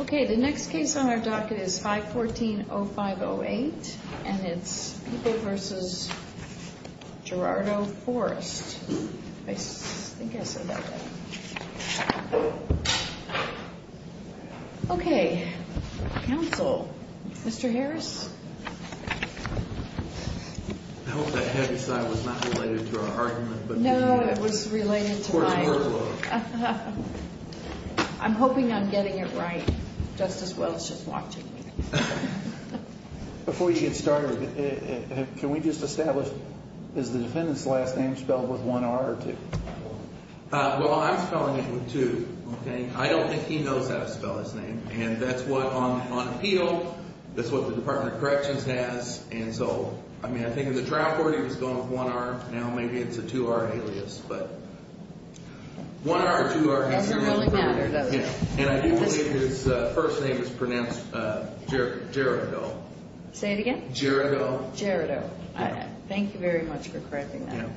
Okay, the next case on our docket is 514-0508, and it's People v. Gerardo Forest. I think I said that right. Okay, counsel. Mr. Harris? I hope that heavy side was not related to our argument, but... No, it was related to my... Court's murder law. I'm hoping I'm getting it right. Justice Welch is watching me. Before you get started, can we just establish, is the defendant's last name spelled with one R or two? Well, I'm spelling it with two, okay? I don't think he knows how to spell his name. And that's what, on appeal, that's what the Department of Corrections has, and so... I mean, I think in the trial court he was going with one R, now maybe it's a two-R alias, but... One R or two R has to be... And I do believe his first name is pronounced Gerardo. Say it again? Gerardo. Gerardo. Thank you very much for correcting that.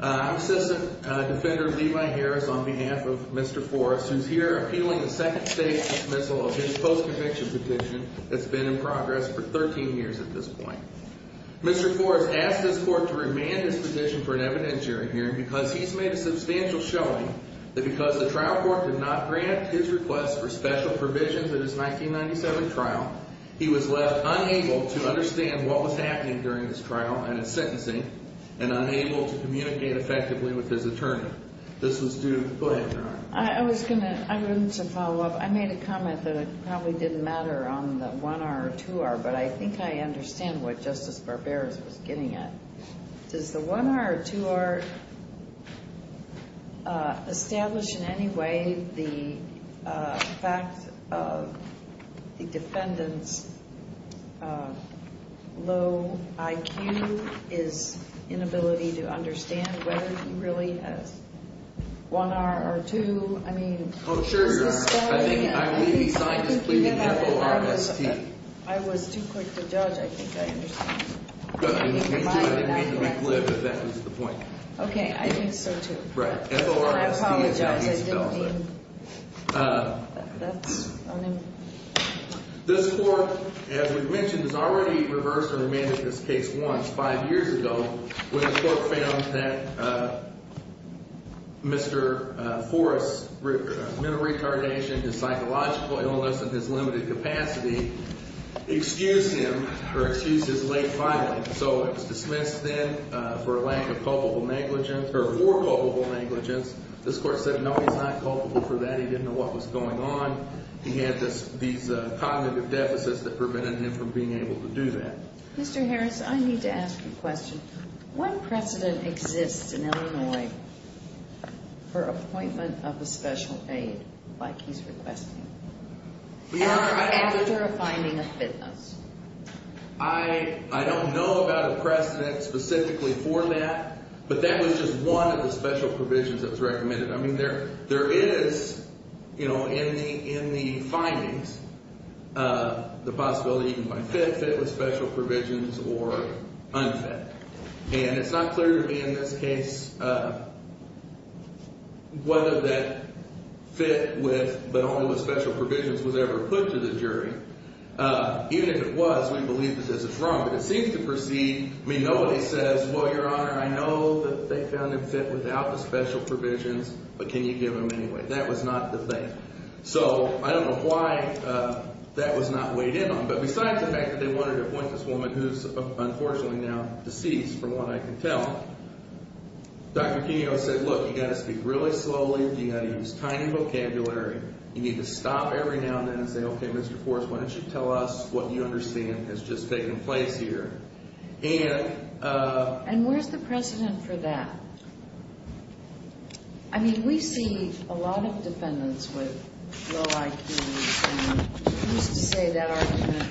I'm Assistant Defender Levi Harris on behalf of Mr. Forest, who's here appealing a second state dismissal of his post-conviction petition that's been in progress for 13 years at this point. Mr. Forest asked his court to remand his petition for an evidentiary hearing because he's made a substantial showing that because the trial court did not grant his request for special provisions in his 1997 trial, he was left unable to understand what was happening during this trial and his sentencing, and unable to communicate effectively with his attorney. This was due to... Go ahead, Your Honor. I was going to... I wanted to follow up. I made a comment that it probably didn't matter on the one R or two R, but I think I understand what Justice Barbera was getting at. Does the one R or two R establish in any way the fact of the defendant's low IQ, his inability to understand whether he really has one R or two? I mean... Oh, sure, Your Honor. I think... I was too quick to judge. I think I understand. I didn't mean to make a flip, but that was the point. Okay. I think so, too. Right. I apologize. I didn't mean... This court, as we've mentioned, has already reversed or remanded this case once, five years ago, when the court found that Mr. Forrest's mental retardation, his psychological illness, and his limited capacity excused him or excused his late filing. So it was dismissed then for lack of culpable negligence or for culpable negligence. This court said, no, he's not culpable for that. He didn't know what was going on. He had these cognitive deficits that prevented him from being able to do that. Mr. Harris, I need to ask you a question. What precedent exists in Illinois for appointment of a special aid like he's requesting? Your Honor, I... After a finding of fitness. I don't know about a precedent specifically for that, but that was just one of the special provisions that was recommended. I mean, there is, you know, in the findings, the possibility you can find fit, fit with special provisions, or unfit. And it's not clear to me in this case whether that fit with but only with special provisions was ever put to the jury. Even if it was, we believe it says it's wrong. But it seems to proceed. I mean, nobody says, well, Your Honor, I know that they found it fit without the special provisions, but can you give them anyway? That was not the thing. So I don't know why that was not weighed in on. But besides the fact that they wanted to appoint this woman who's unfortunately now deceased from what I can tell. Dr. Kenio said, look, you got to speak really slowly. You got to use tiny vocabulary. You need to stop every now and then and say, okay, Mr. Forrest, why don't you tell us what you understand has just taken place. And where's the precedent for that? I mean, we see a lot of defendants with low IQs. And you used to say that argument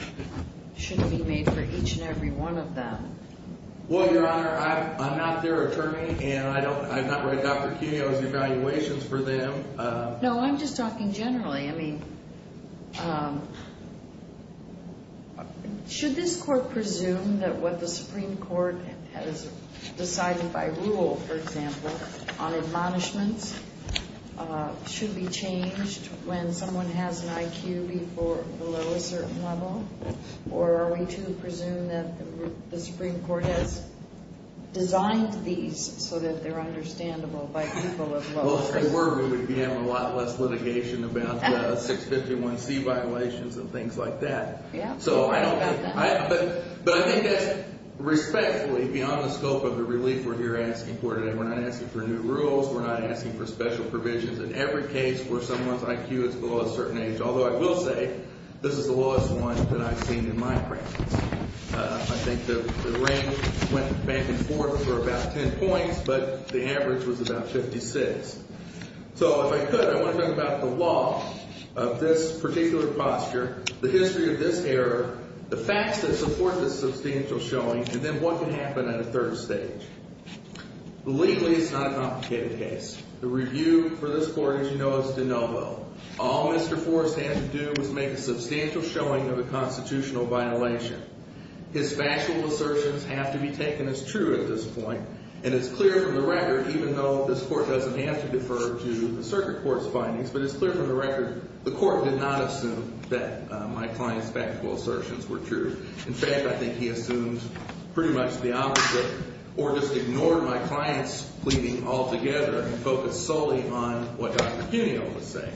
shouldn't be made for each and every one of them. Well, Your Honor, I'm not their attorney, and I don't write Dr. Kenio's evaluations for them. No, I'm just talking generally. I mean, should this court presume that what the Supreme Court has decided by rule, for example, on admonishments should be changed when someone has an IQ below a certain level? Or are we to presume that the Supreme Court has designed these so that they're understandable by people of low IQ? I think we're going to be having a lot less litigation about the 651C violations and things like that. But I think that's respectfully beyond the scope of the relief we're here asking for today. We're not asking for new rules. We're not asking for special provisions. In every case where someone's IQ is below a certain age, although I will say this is the lowest one that I've seen in my practice. I think the range went back and forth for about 10 points, but the average was about 56. So if I could, I want to talk about the law of this particular posture, the history of this error, the facts that support this substantial showing, and then what can happen at a third stage. Legally, it's not a complicated case. The review for this court, as you know, is de novo. All Mr. Forrest had to do was make a substantial showing of a constitutional violation. His factual assertions have to be taken as true at this point. And it's clear from the record, even though this court doesn't have to defer to the circuit court's findings, but it's clear from the record the court did not assume that my client's factual assertions were true. In fact, I think he assumed pretty much the opposite, or just ignored my client's pleading altogether and focused solely on what Dr. Cuneo was saying,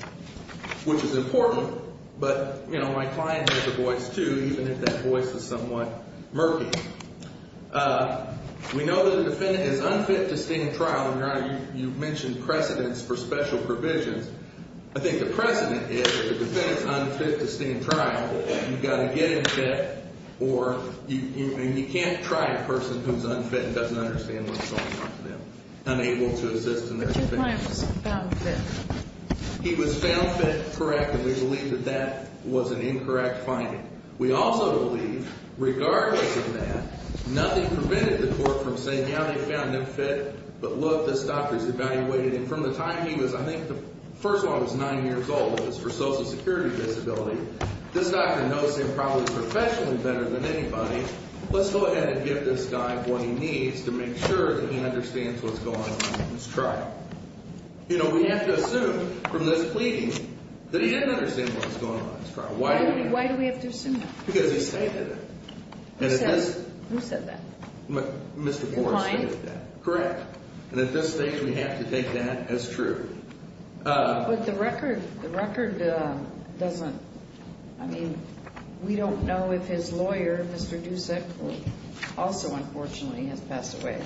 which is important. But my client has a voice, too, even if that voice is somewhat murky. We know that a defendant is unfit to stand trial. And, Your Honor, you mentioned precedents for special provisions. I think the precedent is if a defendant is unfit to stand trial, you've got to get him fit, or you can't try a person who's unfit and doesn't understand what's going on to them, unable to assist in their defense. But your client was found fit. He was found fit, correct, and we believe that that was an incorrect finding. We also believe, regardless of that, nothing prevented the court from saying, yeah, they found him fit, but look, this doctor's evaluated him. And from the time he was, I think the first one was 9 years old, it was for social security disability. This doctor knows him probably professionally better than anybody. Let's go ahead and give this guy what he needs to make sure that he understands what's going on in this trial. You know, we have to assume from this pleading that he didn't understand what was going on in this trial. Why do we have to assume that? Because he stated it. Who said that? Mr. Forrest stated that. Your client? Correct. And at this stage we have to take that as true. But the record doesn't, I mean, we don't know if his lawyer, Mr. Dusick, who also unfortunately has passed away,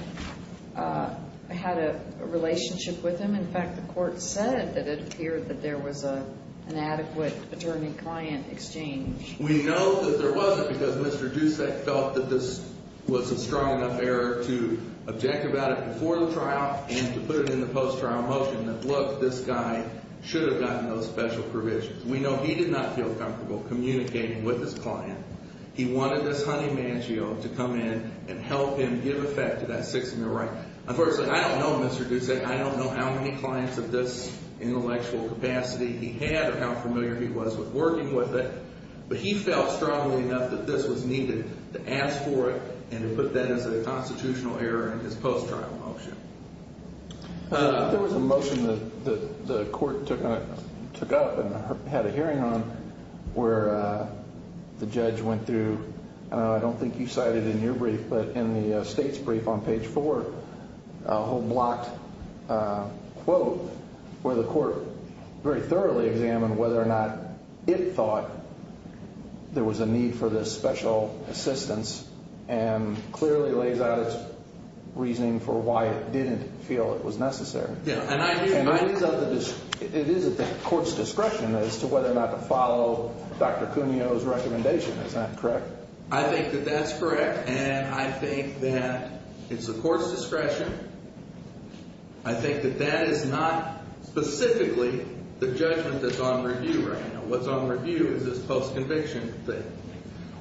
had a relationship with him. In fact, the court said that it appeared that there was an adequate attorney-client exchange. We know that there wasn't because Mr. Dusick felt that this was a strong enough error to object about it before the trial and to put it in the post-trial motion, that, look, this guy should have gotten those special provisions. We know he did not feel comfortable communicating with his client. He wanted this honey maggio to come in and help him give effect to that six-year right. Unfortunately, I don't know, Mr. Dusick, I don't know how many clients of this intellectual capacity he had or how familiar he was with working with it. But he felt strongly enough that this was needed to ask for it and to put that as a constitutional error in his post-trial motion. There was a motion that the court took up and had a hearing on where the judge went through, I don't think you cited in your brief, but in the state's brief on page four, a whole blocked quote where the court very thoroughly examined whether or not it thought there was a need for this special assistance and clearly lays out its reasoning for why it didn't feel it was necessary. It is at the court's discretion as to whether or not to follow Dr. Cuneo's recommendation, is that correct? I think that that's correct, and I think that it's the court's discretion. I think that that is not specifically the judgment that's on review right now. What's on review is this post-conviction thing.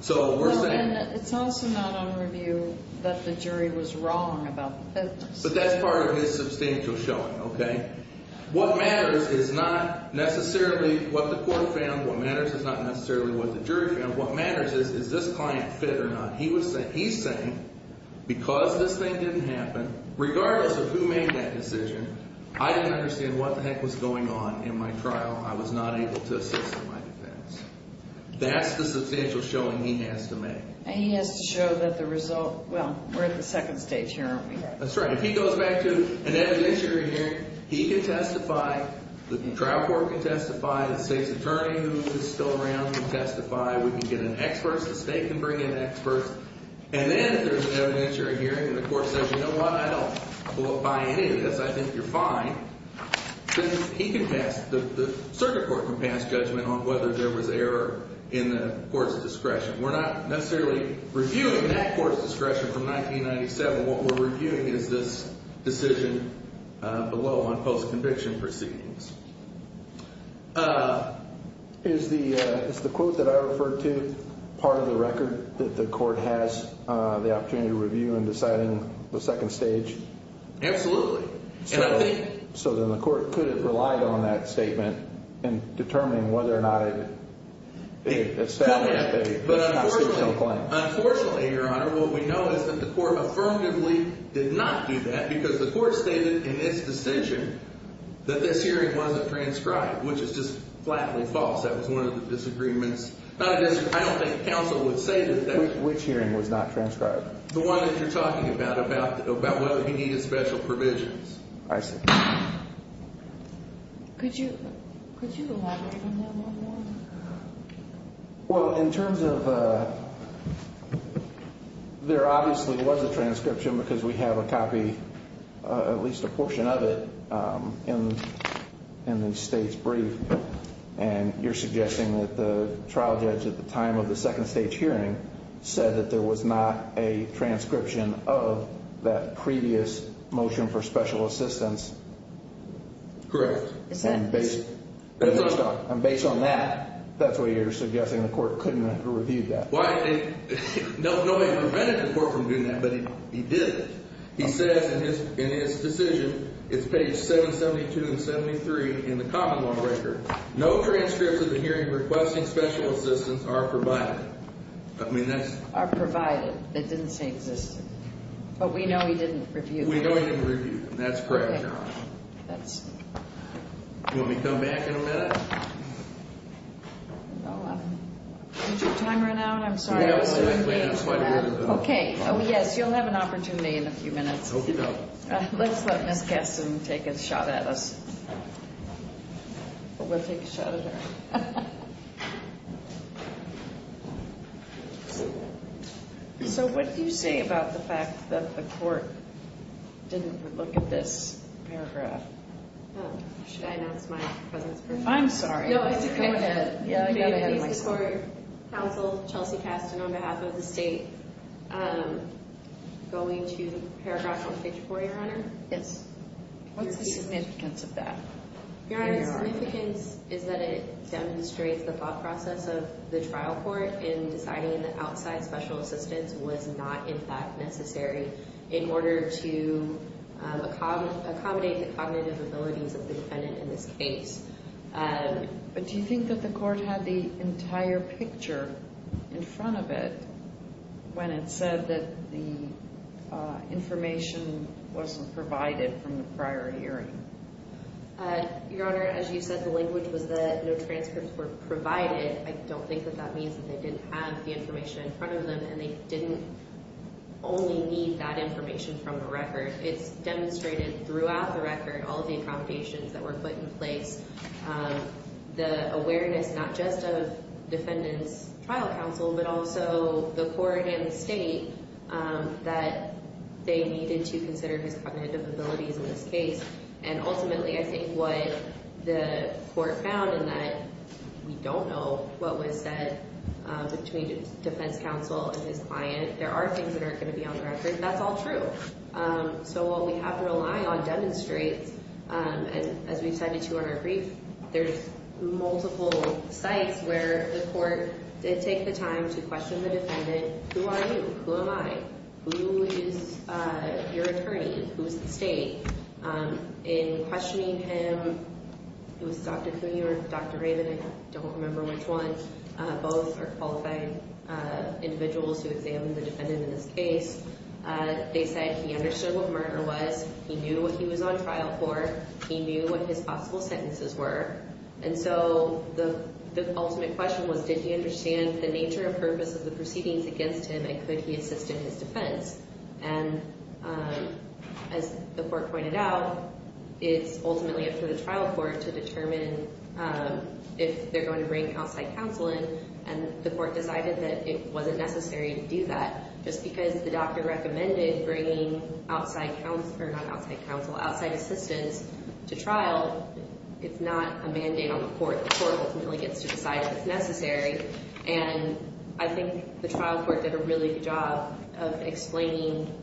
So we're saying- No, and it's also not on review that the jury was wrong about the fitness. But that's part of his substantial showing, okay? What matters is not necessarily what the court found. What matters is not necessarily what the jury found. What matters is, is this client fit or not? He's saying, because this thing didn't happen, regardless of who made that decision, I didn't understand what the heck was going on in my trial. I was not able to assist in my defense. That's the substantial showing he has to make. And he has to show that the result-well, we're at the second stage here, aren't we? That's right. If he goes back to an evidentiary hearing, he can testify. The trial court can testify. The state's attorney who is still around can testify. We can get an expert. The state can bring in experts. And then if there's an evidentiary hearing and the court says, you know what? I don't qualify any of this. I think you're fine. Then he can pass-the circuit court can pass judgment on whether there was error in the court's discretion. We're not necessarily reviewing that court's discretion from 1997. What we're reviewing is this decision below on post-conviction proceedings. Is the quote that I referred to part of the record that the court has the opportunity to review in deciding the second stage? Absolutely. So then the court could have relied on that statement in determining whether or not it established a constitutional claim. Unfortunately, Your Honor, what we know is that the court affirmatively did not do that because the court stated in its decision that this hearing wasn't transcribed, which is just flatly false. That was one of the disagreements. I don't think counsel would say that. Which hearing was not transcribed? The one that you're talking about, about whether he needed special provisions. I see. Could you elaborate on that one more? Well, in terms of there obviously was a transcription because we have a copy, at least a portion of it, in the state's brief. And you're suggesting that the trial judge at the time of the second stage hearing said that there was not a transcription of that previous motion for special assistance. Correct. And based on that, that's why you're suggesting the court couldn't have reviewed that. Well, I think nobody prevented the court from doing that, but he did. He says in his decision, it's page 772 and 73 in the common law record, no transcripts of the hearing requesting special assistance are provided. Are provided. It didn't say existed. But we know he didn't review them. That's correct, Your Honor. Do you want me to come back in a minute? No. Did your time run out? I'm sorry. We have a little bit of time. Okay. Oh, yes. You'll have an opportunity in a few minutes. I hope you don't. Let's let Ms. Gaston take a shot at us. We'll take a shot at her. Okay. So, what do you say about the fact that the court didn't look at this paragraph? Should I announce my presence first? I'm sorry. No, go ahead. I got ahead of myself. The court counseled Chelsea Gaston on behalf of the state going to paragraph 144, Your Honor. Yes. What's the significance of that? Your Honor, the significance is that it demonstrates the thought process of the trial court in deciding that outside special assistance was not, in fact, necessary in order to accommodate the cognitive abilities of the defendant in this case. But do you think that the court had the entire picture in front of it when it said that the information wasn't provided from the prior hearing? Your Honor, as you said, the language was that no transcripts were provided. I don't think that that means that they didn't have the information in front of them and they didn't only need that information from the record. It's demonstrated throughout the record all of the accommodations that were put in place, the awareness not just of defendant's trial counsel, but also the court and the state that they needed to consider his cognitive abilities in this case and ultimately I think what the court found in that we don't know what was said between defense counsel and his client. There are things that aren't going to be on the record. That's all true. So what we have to rely on demonstrates, and as we've said to you on our brief, there's multiple sites where the court did take the time to question the defendant. Who are you? Who am I? Who is your attorney? Who is the state? In questioning him, it was Dr. Cooney or Dr. Raven, I don't remember which one. Both are qualified individuals who examined the defendant in this case. They said he understood what murder was, he knew what he was on trial for, he knew what his possible sentences were, and so the ultimate question was, did he understand the nature and purpose of the proceedings against him and could he assist in his defense? And as the court pointed out, it's ultimately up to the trial court to determine if they're going to bring outside counsel in, and the court decided that it wasn't necessary to do that. Just because the doctor recommended bringing outside counsel, not outside counsel, outside assistance to trial, it's not a mandate on the court. The court ultimately gets to decide if it's necessary, and I think the trial court did a really good job of explaining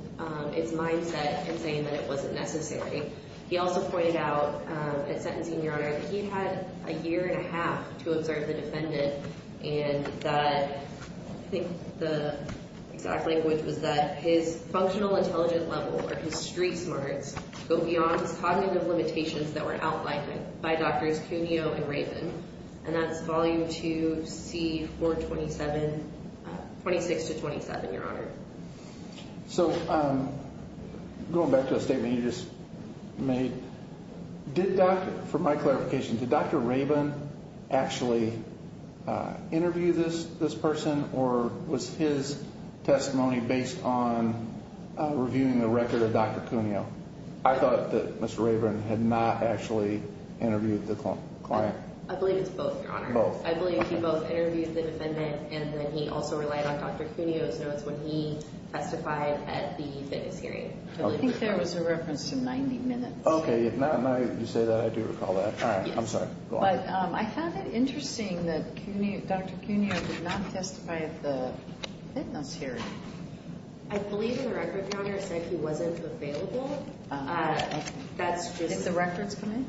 its mindset and saying that it wasn't necessary. He also pointed out at sentencing, Your Honor, that he had a year and a half to observe the defendant and that I think the exact language was that his functional intelligent level or his street smarts go beyond his cognitive limitations that were outlined by Drs. Cuneo and Rabin, and that's volume 2, C-427, 26 to 27, Your Honor. So going back to the statement you just made, did Dr. – for my clarification, did Dr. Rabin actually interview this person or was his testimony based on reviewing the record of Dr. Cuneo? I thought that Mr. Rabin had not actually interviewed the client. I believe it's both, Your Honor. Both. I believe he both interviewed the defendant and then he also relied on Dr. Cuneo's notes when he testified at the fitness hearing. I think there was a reference to 90 minutes. Okay, if not, now that you say that, I do recall that. All right, I'm sorry. But I found it interesting that Dr. Cuneo did not testify at the fitness hearing. I believe the record, Your Honor, said he wasn't available. That's just— Did the records come in?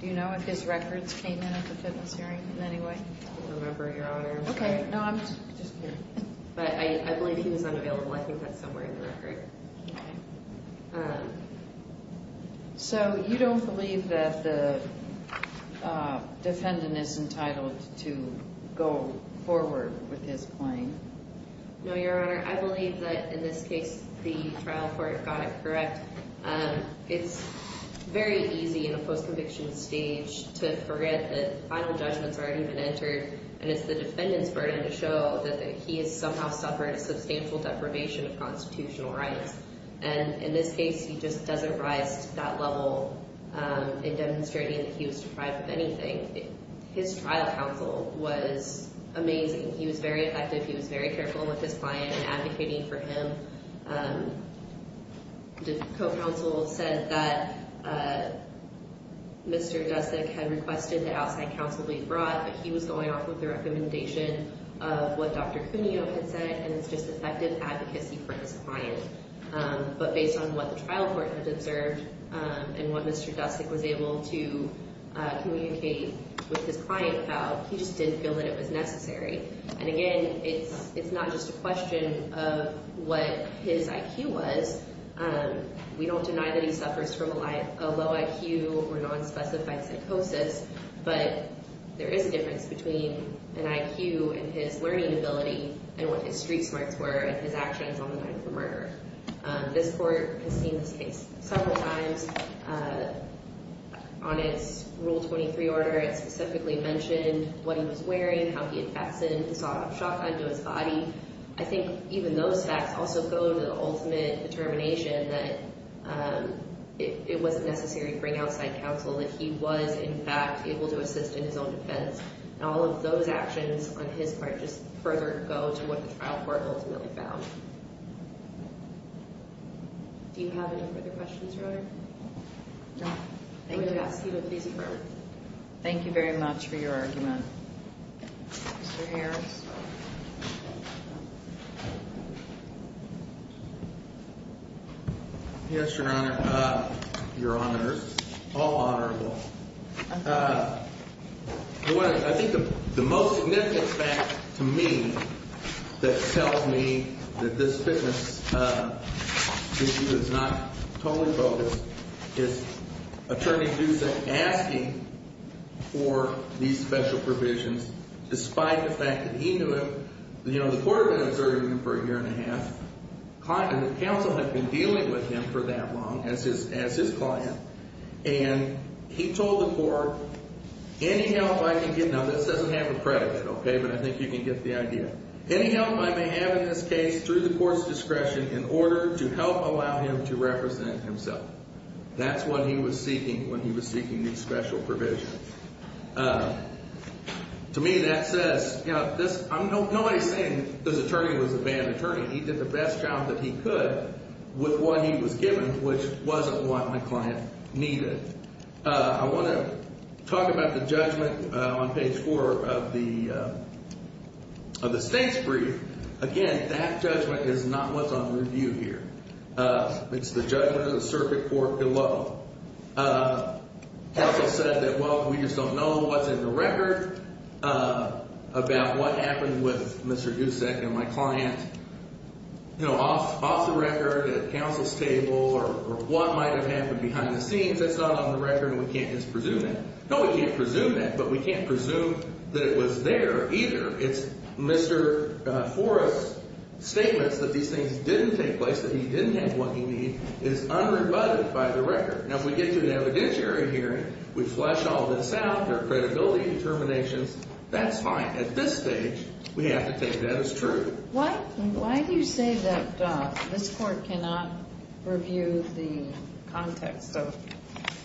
Do you know if his records came in at the fitness hearing in any way? I don't remember, Your Honor. Okay, no, I'm just curious. But I believe he was unavailable. I think that's somewhere in the record. So you don't believe that the defendant is entitled to go forward with his claim? No, Your Honor. I believe that, in this case, the trial court got it correct. It's very easy in a post-conviction stage to forget that the final judgment has already been entered and it's the defendant's burden to show that he has somehow suffered a substantial deprivation of constitutional rights. And in this case, he just doesn't rise to that level in demonstrating that he was deprived of anything. His trial counsel was amazing. He was very effective. He was very careful with his client in advocating for him. The co-counsel said that Mr. Dusik had requested that outside counsel be brought, but he was going off with the recommendation of what Dr. Cuneo had said, and it's just effective advocacy for his client. But based on what the trial court had observed and what Mr. Dusik was able to communicate with his client about, he just didn't feel that it was necessary. And again, it's not just a question of what his IQ was. We don't deny that he suffers from a low IQ or nonspecified psychosis, but there is a difference between an IQ and his learning ability and what his street smarts were and his actions on the night of the murder. This court has seen this case several times. On its Rule 23 order, it specifically mentioned what he was wearing, how he had faxed in, and saw a shotgun to his body. I think even those facts also go to the ultimate determination that it wasn't necessary to bring outside counsel, that he was, in fact, able to assist in his own defense. And all of those actions on his part just further go to what the trial court ultimately found. Do you have any further questions, Your Honor? No. Thank you. Thank you very much for your argument. Mr. Harris? Yes, Your Honor, Your Honors, all honorable. I think the most significant fact to me that tells me that this fitness issue is not totally focused is Attorney Duesen asking for these special provisions despite the fact that he knew him. You know, the court had been observing him for a year and a half. The counsel had been dealing with him for that long as his client, and he told the court, any help I can get, now this doesn't have a credit, okay, but I think you can get the idea. Any help I may have in this case through the court's discretion in order to help allow him to represent himself. That's what he was seeking when he was seeking these special provisions. To me, that says, you know, nobody's saying this attorney was a bad attorney. He did the best job that he could with what he was given, which wasn't what my client needed. I want to talk about the judgment on page 4 of the state's brief. Again, that judgment is not what's on review here. It's the judgment of the circuit court below. Counsel said that, well, we just don't know what's in the record about what happened with Mr. Duesen and my client, you know, off the record at counsel's table or what might have happened behind the scenes. That's not on the record, and we can't just presume that. No, we can't presume that, but we can't presume that it was there either. It's Mr. Forrest's statements that these things didn't take place, that he didn't have what he needed is unrebutted by the record. Now, if we get to an evidentiary hearing, we flesh all this out, there are credibility determinations. That's fine. At this stage, we have to take that as true. Why do you say that this court cannot review the context of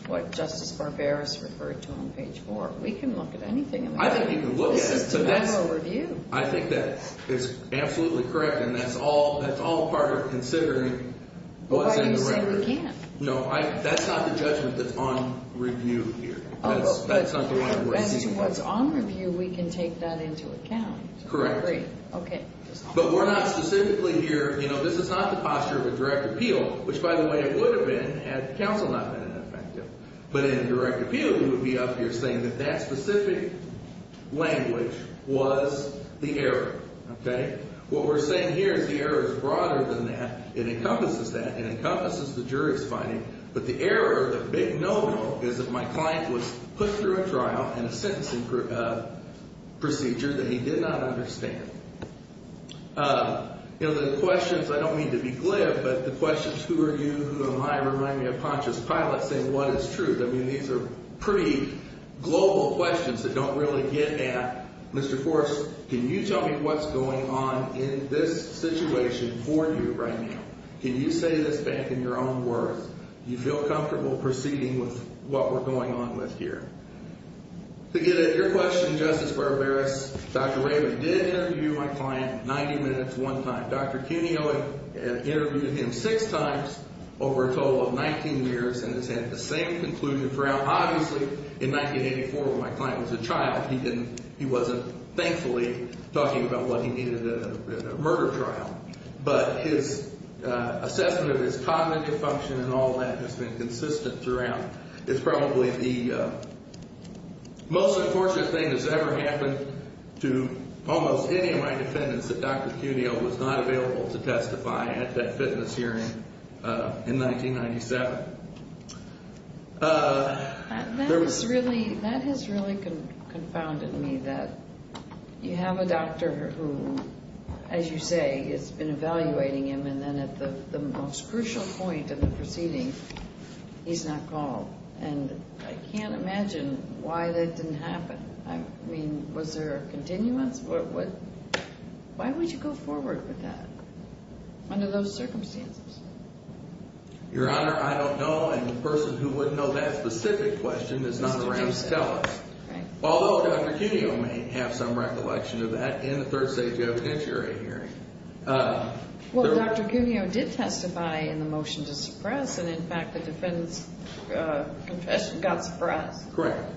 what Justice Barberis referred to on page 4? We can look at anything. I think you can look at it. This is to have a review. I think that is absolutely correct, and that's all part of considering what's in the record. Why do you say we can't? No, that's not the judgment that's on review here. That's not the way we're seeing it. As to what's on review, we can take that into account. Correct. Great. Okay. But we're not specifically here, you know, this is not the posture of a direct appeal, which, by the way, it would have been had counsel not been in effect. But in a direct appeal, we would be up here saying that that specific language was the error. Okay? What we're saying here is the error is broader than that. It encompasses that. It encompasses the jury's finding. But the error, the big no-no, is that my client was put through a trial and a sentencing procedure that he did not understand. You know, the questions, I don't mean to be glib, but the questions, who are you, who am I, remind me of Pontius Pilate saying what is truth. I mean, these are pretty global questions that don't really get at, Mr. Forrest, can you tell me what's going on in this situation for you right now? Can you say this back in your own words? Do you feel comfortable proceeding with what we're going on with here? To get at your question, Justice Barbaros, Dr. Rayburn did interview my client 90 minutes one time. Dr. Cuneo interviewed him six times over a total of 19 years and has had the same conclusion throughout. Obviously, in 1984, when my client was a child, he didn't – he wasn't, thankfully, talking about what he needed in a murder trial. But his assessment of his cognitive function and all that has been consistent throughout. It's probably the most unfortunate thing that's ever happened to almost any of my defendants that Dr. Cuneo was not available to testify at that fitness hearing in 1997. That has really confounded me that you have a doctor who, as you say, has been evaluating him and then at the most crucial point in the proceeding, he's not called. And I can't imagine why that didn't happen. I mean, was there a continuance? Why would you go forward with that under those circumstances? Your Honor, I don't know, and the person who would know that specific question is not around to tell us. Although Dr. Cuneo may have some recollection of that in the third safety evidentiary hearing. Well, Dr. Cuneo did testify in the motion to suppress, and in fact, the defendant's confession got suppressed. Correct.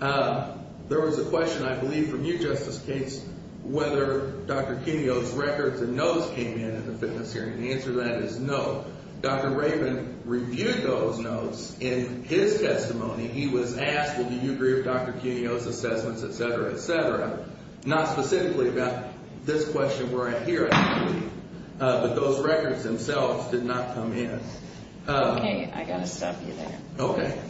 There was a question, I believe, from you, Justice Gates, whether Dr. Cuneo's records and notes came in at the fitness hearing. The answer to that is no. Dr. Rabin reviewed those notes in his testimony. He was asked, well, do you agree with Dr. Cuneo's assessments, et cetera, et cetera. Not specifically about this question where I hear it, but those records themselves did not come in. Okay. I got to stop you there. Okay.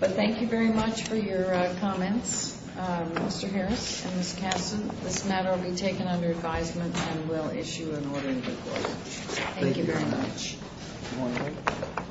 But thank you very much for your comments, Mr. Harris and Ms. Kasten. This matter will be taken under advisement and will issue an orderly report. Thank you very much. Thank you very much.